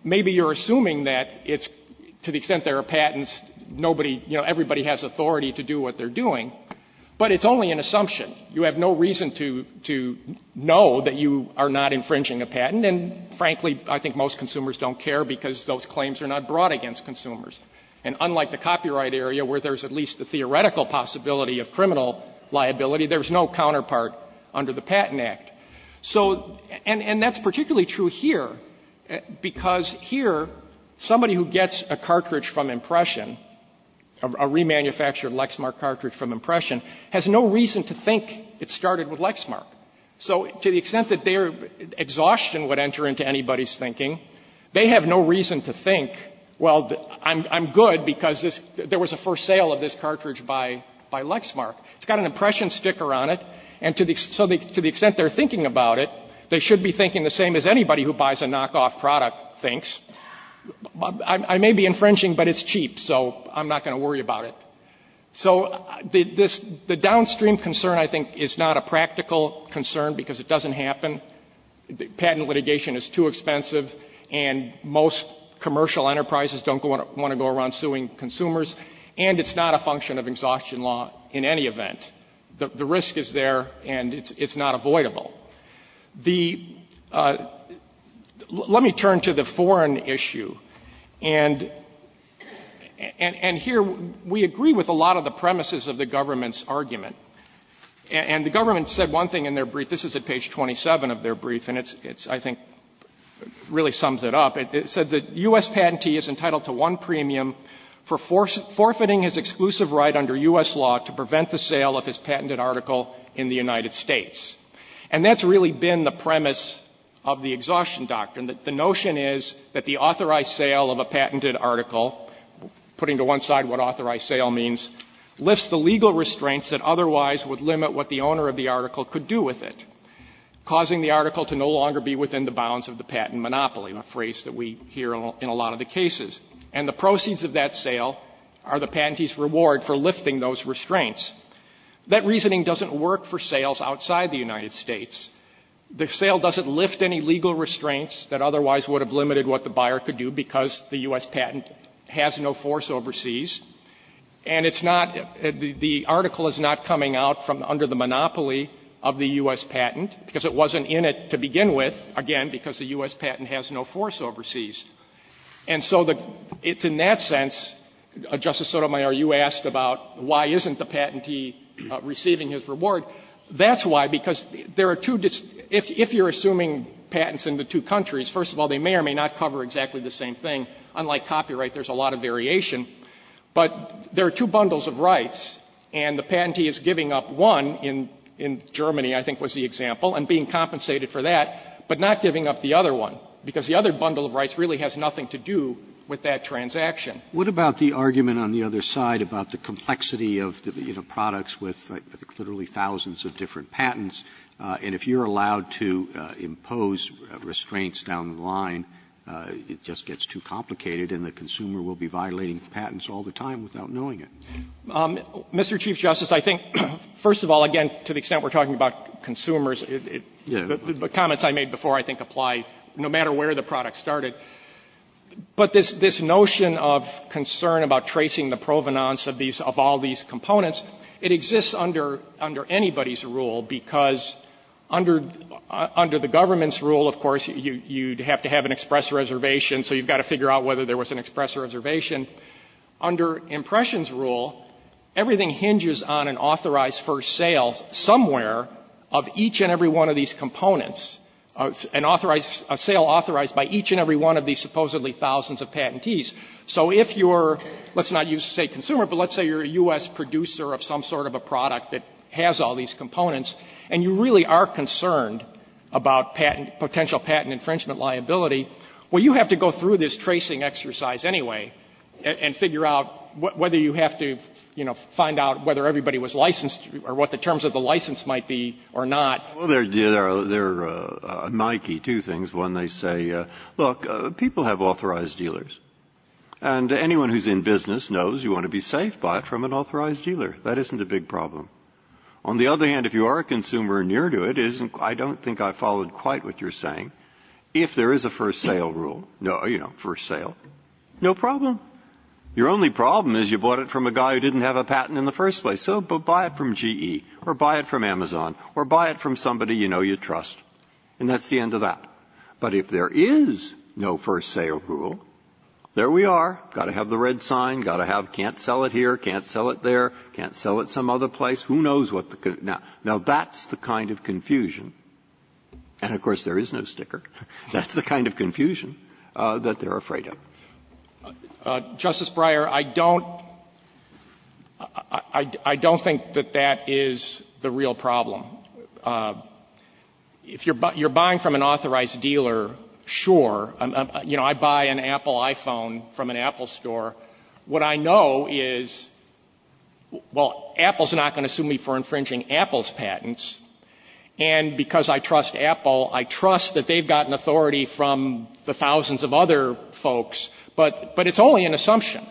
maybe you're assuming that it's – to the extent there are patents, nobody – you know, everybody has authority to do what they're doing, but it's only an assumption. You have no reason to – to know that you are not infringing a patent, and frankly, I think most consumers don't care because those claims are not brought against consumers. And unlike the copyright area where there's at least a theoretical possibility of criminal liability, there's no counterpart under the Patent Act. So – and that's particularly true here, because here somebody who gets a cartridge from Impression, a remanufactured Lexmark cartridge from Impression, has no reason to think it started with Lexmark. So to the extent that their exhaustion would enter into anybody's thinking, they have no reason to think, well, I'm good because this – there was a first sale of this cartridge by – by Lexmark. It's got an Impression sticker on it, and to the – so to the extent they're thinking about it, they should be thinking the same as anybody who buys a knockoff product thinks. I may be infringing, but it's cheap, so I'm not going to worry about it. So the – this – the downstream concern, I think, is not a practical concern because it doesn't happen. Patent litigation is too expensive, and most commercial enterprises don't want to go around suing consumers, and it's not a function of exhaustion law in any event. The risk is there, and it's not avoidable. The – let me turn to the foreign issue, and – and here we agree with a lot of the premises of the government's argument. And the government said one thing in their brief. This is at page 27 of their brief, and it's – it's, I think, really sums it up. It said that U.S. patentee is entitled to one premium for forfeiting his exclusive right under U.S. law to prevent the sale of his patented article in the United States. And that's really been the premise of the exhaustion doctrine, that the notion is that the authorized sale of a patented article, putting to one side what authorized sale means, lifts the legal restraints that otherwise would limit what the owner of the article could do with it, causing the article to no longer be within the bounds of the patent monopoly, a phrase that we hear in a lot of the cases. And the proceeds of that sale are the patentee's reward for lifting those restraints. That reasoning doesn't work for sales outside the United States. The sale doesn't lift any legal restraints that otherwise would have limited what the buyer could do because the U.S. patent has no force overseas. And it's not – the article is not coming out from under the monopoly of the U.S. patent because it wasn't in it to begin with, again, because the U.S. patent has no force overseas. And so the – it's in that sense, Justice Sotomayor, you asked about why isn't the patentee receiving his reward. That's why, because there are two – if you're assuming patents in the two countries, first of all, they may or may not cover exactly the same thing. Unlike copyright, there's a lot of variation. But there are two bundles of rights, and the patentee is giving up one in Germany, I think was the example, and being compensated for that, but not giving up the other one, because the other bundle of rights really has nothing to do with that transaction. Roberts, what about the argument on the other side about the complexity of, you know, products with literally thousands of different patents, and if you're allowed to impose restraints down the line, it just gets too complicated, and the consumer will be violating the patents all the time without knowing it? Mr. Chief Justice, I think, first of all, again, to the extent we're talking about consumers, the comments I made before, I think, apply no matter where the product started. But this notion of concern about tracing the provenance of these – of all these components, it exists under anybody's rule, because under the government's rule, of course, you'd have to have an express reservation, so you've got to figure out whether there was an express reservation. Under Impression's rule, everything hinges on an authorized first sale somewhere of each and every one of these components, an authorized – a sale authorized by each and every one of these supposedly thousands of patentees. So if you're – let's not use, say, consumer, but let's say you're a U.S. producer of some sort of a product that has all these components, and you really are concerned about patent – potential patent infringement liability, well, you have to go through this tracing exercise anyway and figure out whether you have to, you know, find out whether everybody was licensed or what the terms of the license might be or not. Well, there are – there are – there are Nike two things. One, they say, look, people have authorized dealers, and anyone who's in business knows you want to be safe, buy it from an authorized dealer. That isn't a big problem. On the other hand, if you are a consumer and you're new to it, it isn't – I don't think I followed quite what you're saying. If there is a first sale rule, you know, first sale, no problem. Your only problem is you bought it from a guy who didn't have a patent in the first place. So buy it from GE or buy it from Amazon or buy it from somebody you know you trust. And that's the end of that. But if there is no first sale rule, there we are. Got to have the red sign, got to have can't sell it here, can't sell it there, can't sell it some other place. Who knows what the – now, that's the kind of confusion, and of course, there is no sticker. That's the kind of confusion that they're afraid of. Justice Breyer, I don't – I don't think that that is the real problem. If you're buying from an authorized dealer, sure. You know, I buy an Apple iPhone from an Apple store. What I know is, well, Apple is not going to sue me for infringing Apple's patents. And because I trust Apple, I trust that they've gotten authority from the thousands of other folks, but it's only an assumption.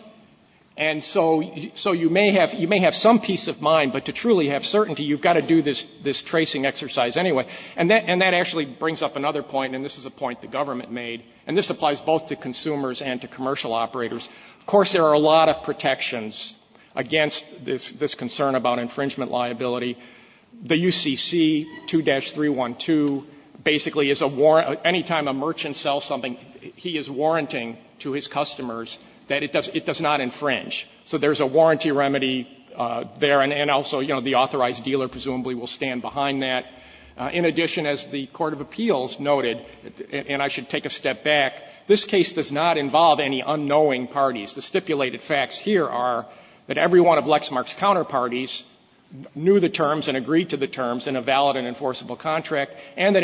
And so you may have some peace of mind, but to truly have certainty, you've got to do this tracing exercise anyway. And that actually brings up another point, and this is a point the government made, and this applies both to consumers and to commercial operators. Of course, there are a lot of protections against this concern about infringement liability. The UCC 2-312 basically is a warrant – any time a merchant sells something, he is warranting to his customers that it does not infringe. So there's a warranty remedy there, and also, you know, the authorized dealer presumably will stand behind that. In addition, as the court of appeals noted, and I should take a step back, this case does not involve any unknowing parties. The stipulated facts here are that every one of Lexmark's counterparties knew the terms and agreed to the terms in a valid and enforceable contract, and that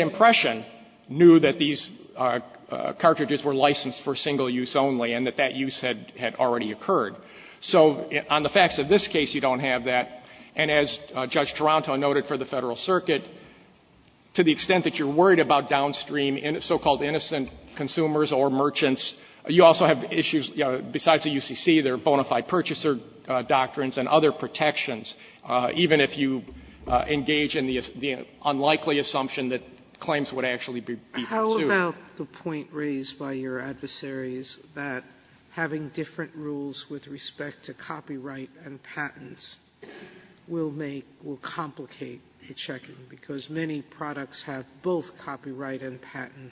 were licensed for single use only, and that that use had already occurred. So on the facts of this case, you don't have that. And as Judge Taranto noted for the Federal Circuit, to the extent that you're worried about downstream so-called innocent consumers or merchants, you also have issues besides the UCC, there are bona fide purchaser doctrines and other protections, even if you engage in the unlikely assumption that claims would actually be pursued. Sotomayor, how about the point raised by your adversaries that having different rules with respect to copyright and patents will make, will complicate the checking, because many products have both copyright and patent?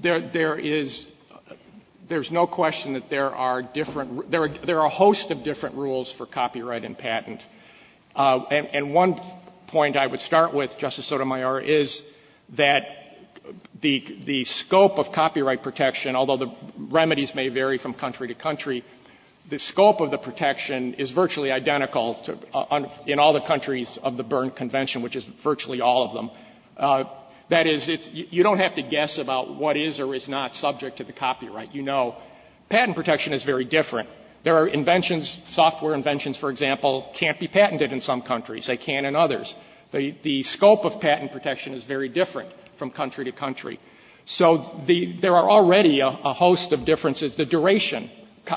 There is no question that there are different rules. There are a host of different rules for copyright and patent. And one point I would start with, Justice Sotomayor, is that the scope of copyright protection, although the remedies may vary from country to country, the scope of the protection is virtually identical in all the countries of the Berne Convention, which is virtually all of them. That is, you don't have to guess about what is or is not subject to the copyright. You know patent protection is very different. There are inventions, software inventions, for example, can't be patented in some countries. They can in others. The scope of patent protection is very different from country to country. So there are already a host of differences. The duration,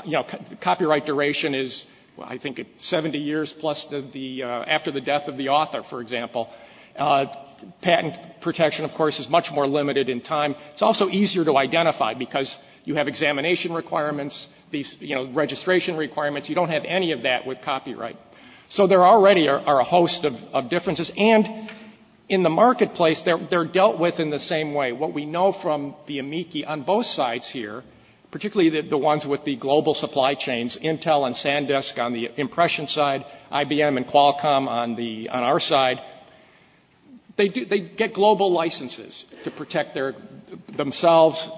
you know, copyright duration is, I think, 70 years plus the, after the death of the author, for example. Patent protection, of course, is much more limited in time. It's also easier to identify, because you have examination requirements, these, you know, registration requirements. You don't have any of that with copyright. So there already are a host of differences. And in the marketplace, they're dealt with in the same way. What we know from the amici on both sides here, particularly the ones with the global supply chains, Intel and SanDisk on the impression side, IBM and Qualcomm on the, on our side, they do, they get global licenses to protect their, themselves,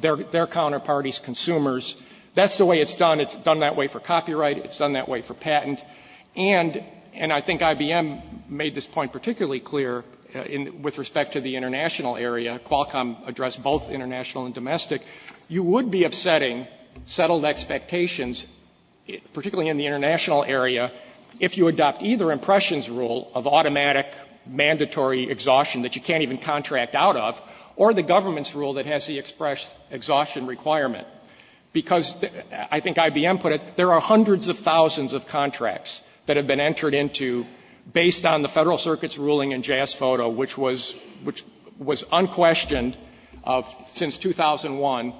their, their counterparties, consumers. That's the way it's done. It's done that way for copyright. It's done that way for patent. And, and I think IBM made this point particularly clear in, with respect to the international area. Qualcomm addressed both international and domestic. You would be upsetting settled expectations, particularly in the international area, if you adopt either Impression's rule of automatic, mandatory exhaustion that you can't even contract out of, or the government's rule that has the expression exhaustion requirement. Because, I think IBM put it, there are hundreds of thousands of contracts that have been entered into based on the Federal Circuit's ruling in JASPHOTO, which was, which was unquestioned of, since 2001.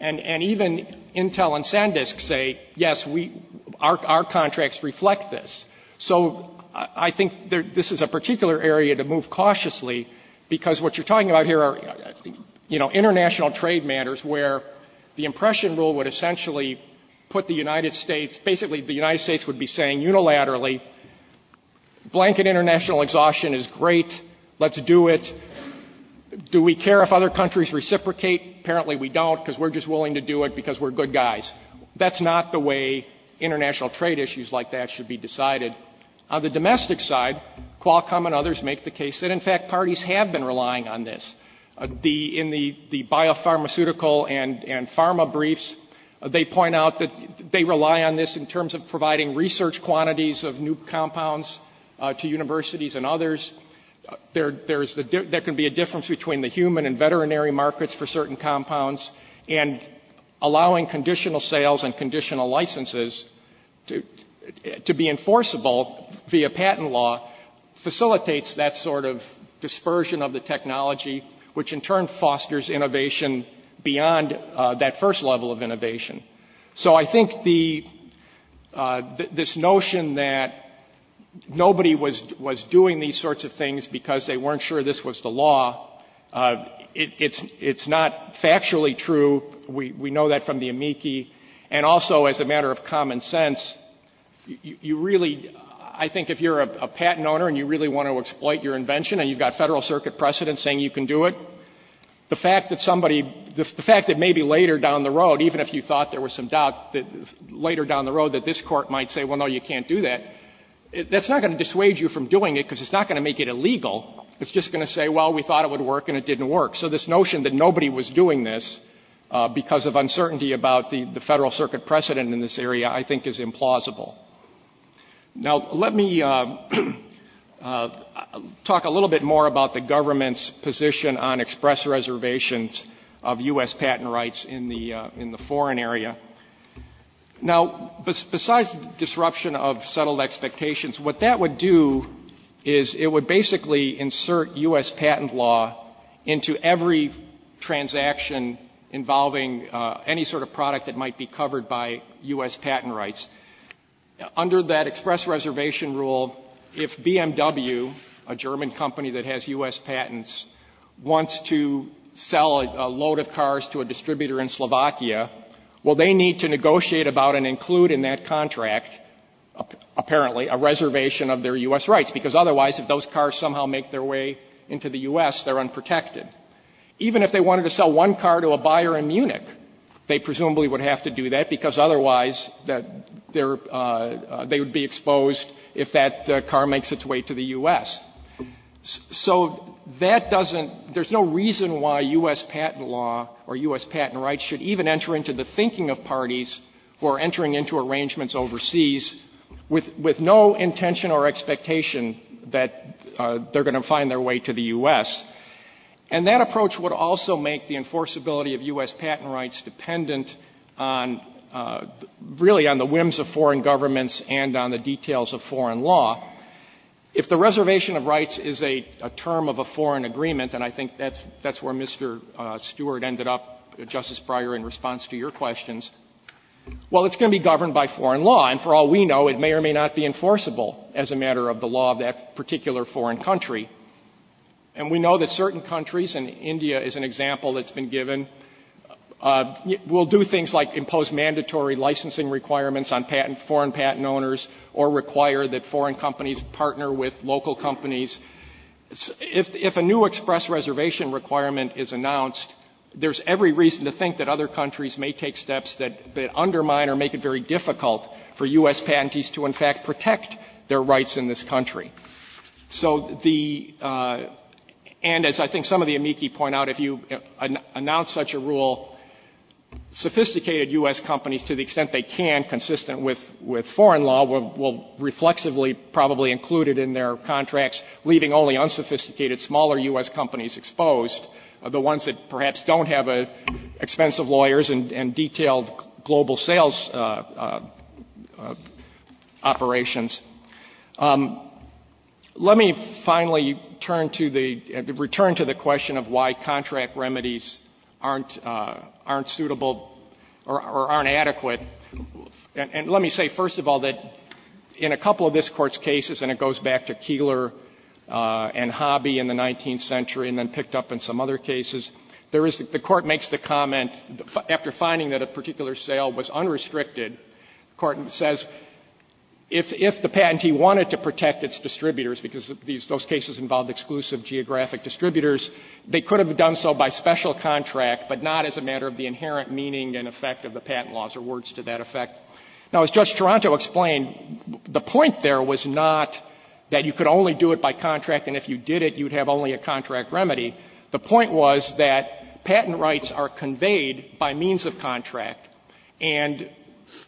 And, and even Intel and SanDisk say, yes, we, our, our contracts reflect this. So, I, I think there, this is a particular area to move cautiously, because what you're talking about here are, you know, international trade matters, where the Impression rule would essentially put the United States, basically the United States would be saying unilaterally, blanket international exhaustion is great, let's do it. Do we care if other countries reciprocate? Apparently we don't, because we're just willing to do it, because we're good guys. That's not the way international trade issues like that should be decided. On the domestic side, Qualcomm and others make the case that, in fact, parties have been relying on this. The, in the, the biopharmaceutical and, and pharma briefs, they point out that they rely on this in terms of providing research quantities of new compounds to universities and others. There, there's the, there can be a difference between the human and veterinary markets for certain compounds, and allowing conditional sales and conditional licenses to, to be enforceable via patent law facilitates that sort of dispersion of the technology, which in turn fosters innovation beyond that first level of innovation. So, I think the, this notion that nobody was, was doing these sorts of things because they weren't sure this was the law, it, it's, it's not factually true. We, we know that from the amici. And also as a matter of common sense, you, you really, I think if you're a, a patent owner and you really want to exploit your invention and you've got Federal Circuit precedent saying you can do it, the fact that somebody, the fact that maybe later down the road, even if you thought there was some doubt, later down the road that this Court might say, well, no, you can't do that, it, that's not going to dissuade you from doing it because it's not going to make it illegal. It's just going to say, well, we thought it would work and it didn't work. So this notion that nobody was doing this because of uncertainty about the, the Federal Circuit precedent in this area, I think is implausible. Now, let me talk a little bit more about the government's position on express reservations of U.S. patent rights in the, in the foreign area. Now, besides disruption of settled expectations, what that would do is it would basically insert U.S. patent law into every transaction involving any sort of product that might be covered by U.S. patent rights. Under that express reservation rule, if BMW, a German company that has U.S. patents, wants to sell a load of cars to a distributor in Slovakia, well, they need to negotiate about and include in that contract, apparently, a reservation of their U.S. rights, because otherwise if those cars somehow make their way into the U.S., they're unprotected. Even if they wanted to sell one car to a buyer in Munich, they presumably would have to do that because otherwise they're, they would be exposed if that car makes its way to the U.S. So that doesn't, there's no reason why U.S. patent law or U.S. patent rights should even enter into the thinking of parties who are entering into arrangements overseas with, with no intention or expectation that they're going to find their way to the U.S. And that approach would also make the enforceability of U.S. patent rights dependent on, really, on the whims of foreign governments and on the details of foreign law. If the reservation of rights is a, a term of a foreign agreement, and I think that's, that's where Mr. Stewart ended up, Justice Breyer, in response to your questions, well, it's going to be governed by foreign law. And for all we know, it may or may not be enforceable as a matter of the law of that particular foreign country. And we know that certain countries, and India is an example that's been given, will do things like impose mandatory licensing requirements on patent, foreign companies partner with local companies. If, if a new express reservation requirement is announced, there's every reason to think that other countries may take steps that, that undermine or make it very difficult for U.S. patentees to, in fact, protect their rights in this country. So the, and as I think some of the amici point out, if you announce such a rule, sophisticated U.S. companies, to the extent they can, consistent with, with foreign law, will reflexively probably include it in their contracts, leaving only unsophisticated, smaller U.S. companies exposed, the ones that perhaps don't have expensive lawyers and, and detailed global sales operations. Let me finally turn to the, return to the question of why contract remedies aren't, aren't suitable or, or aren't adequate. And, and let me say, first of all, that in a couple of this Court's cases, and it goes back to Keillor and Hobby in the 19th century and then picked up in some other cases, there is, the Court makes the comment, after finding that a particular sale was unrestricted, the Court says, if, if the patentee wanted to protect its distributors, because these, those cases involved exclusive geographic distributors, they could have done so by special contract, but not as a matter of the inherent meaning and effect of the patent laws, or words to that effect. Now, as Judge Taranto explained, the point there was not that you could only do it by contract, and if you did it, you would have only a contract remedy. The point was that patent rights are conveyed by means of contract, and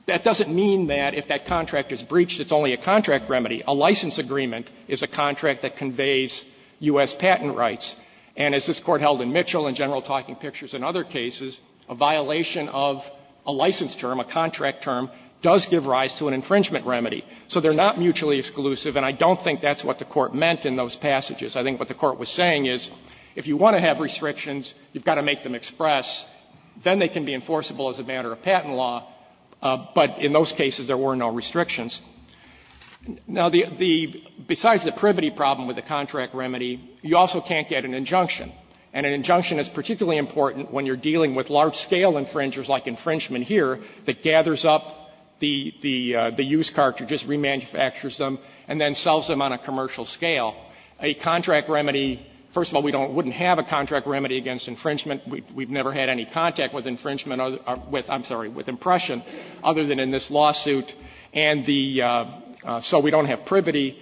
that doesn't mean that if that contract is breached, it's only a contract remedy. A license agreement is a contract that conveys U.S. patent rights, and as this Court held in Mitchell and General Talking Pictures and other cases, a violation of a license term, a contract term, does give rise to an infringement remedy. So they're not mutually exclusive, and I don't think that's what the Court meant in those passages. I think what the Court was saying is, if you want to have restrictions, you've got to make them express. Then they can be enforceable as a matter of patent law, but in those cases, there were no restrictions. Now, the, the, besides the privity problem with the contract remedy, you also can't get an injunction. And an injunction is particularly important when you're dealing with large-scale infringers, like infringement here, that gathers up the, the, the used car to just remanufactures them and then sells them on a commercial scale. A contract remedy, first of all, we don't, wouldn't have a contract remedy against infringement. We've never had any contact with infringement or with, I'm sorry, with impression other than in this lawsuit. And the, so we don't have privity.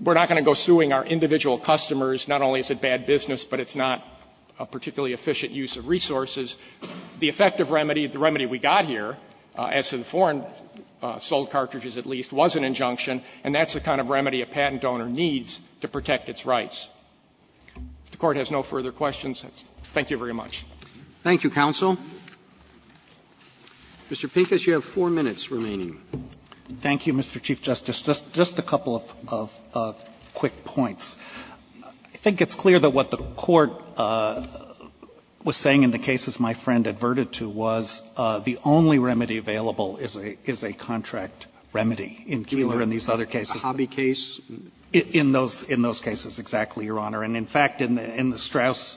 We're not going to go suing our individual customers. Not only is it bad business, but it's not a particularly efficient use of resources. The effective remedy, the remedy we got here, as to the foreign-sold cartridges at least, was an injunction, and that's the kind of remedy a patent donor needs to protect its rights. If the Court has no further questions, thank you very much. Roberts, Thank you, counsel. Mr. Pincus, you have four minutes remaining. Pincus, Thank you, Mr. Chief Justice. Just a couple of quick points. I think it's clear that what the Court was saying in the cases my friend adverted to was the only remedy available is a contract remedy in Keeler and these other Roberts, Hobby case? Pincus, In those cases, exactly, Your Honor. And in fact, in the Strauss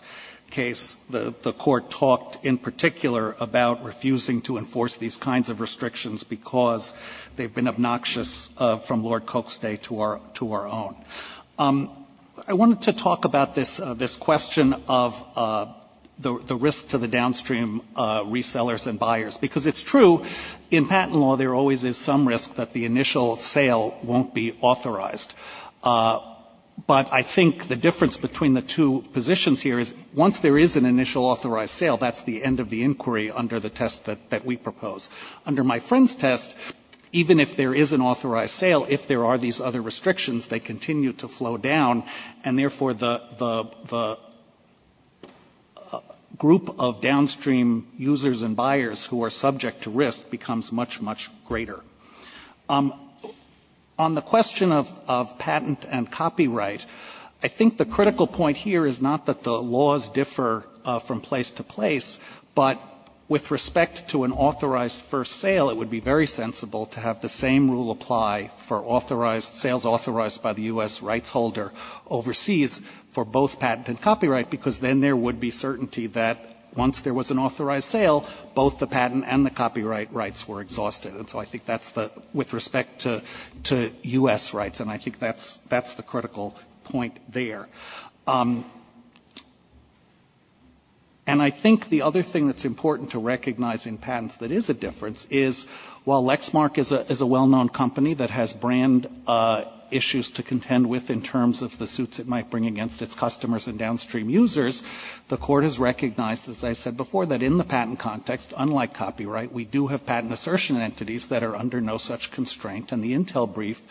case, the Court talked in particular about refusing to enforce these kinds of restrictions because they've been obnoxious from Lord Coke's day to our own. I wanted to talk about this question of the risk to the downstream resellers and buyers, because it's true in patent law there always is some risk that the initial sale won't be authorized. But I think the difference between the two positions here is once there is an initial authorized sale, that's the end of the inquiry under the test that we propose. Under my friend's test, even if there is an authorized sale, if there are these other restrictions, they continue to flow down, and therefore the group of downstream users and buyers who are subject to risk becomes much, much greater. On the question of patent and copyright, I think the critical point here is not that the laws differ from place to place, but with respect to an authorized first sale, it would be very sensible to have the same rule apply for authorized, sales authorized by the U.S. rights holder overseas for both patent and copyright, because then there would be certainty that once there was an authorized sale, both the patent and the copyright rights were exhausted. And so I think that's the, with respect to U.S. rights, and I think that's the critical point there. And I think the other thing that's important to recognize in patents that is a difference is, while Lexmark is a well-known company that has brand issues to contend with in terms of the suits it might bring against its customers and downstream users, the Court has recognized, as I said before, that in the patent context, unlike copyright, we do have patent assertion entities that are under no such constraint. And the Intel brief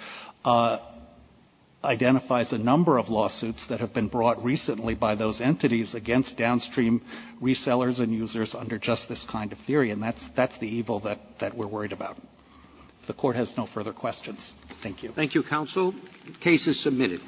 identifies a number of lawsuits that have been brought recently by those entities against downstream resellers and users under just this kind of theory, and that's the evil that we're worried about. If the Court has no further questions, thank you. Roberts. Thank you, counsel. The case is submitted.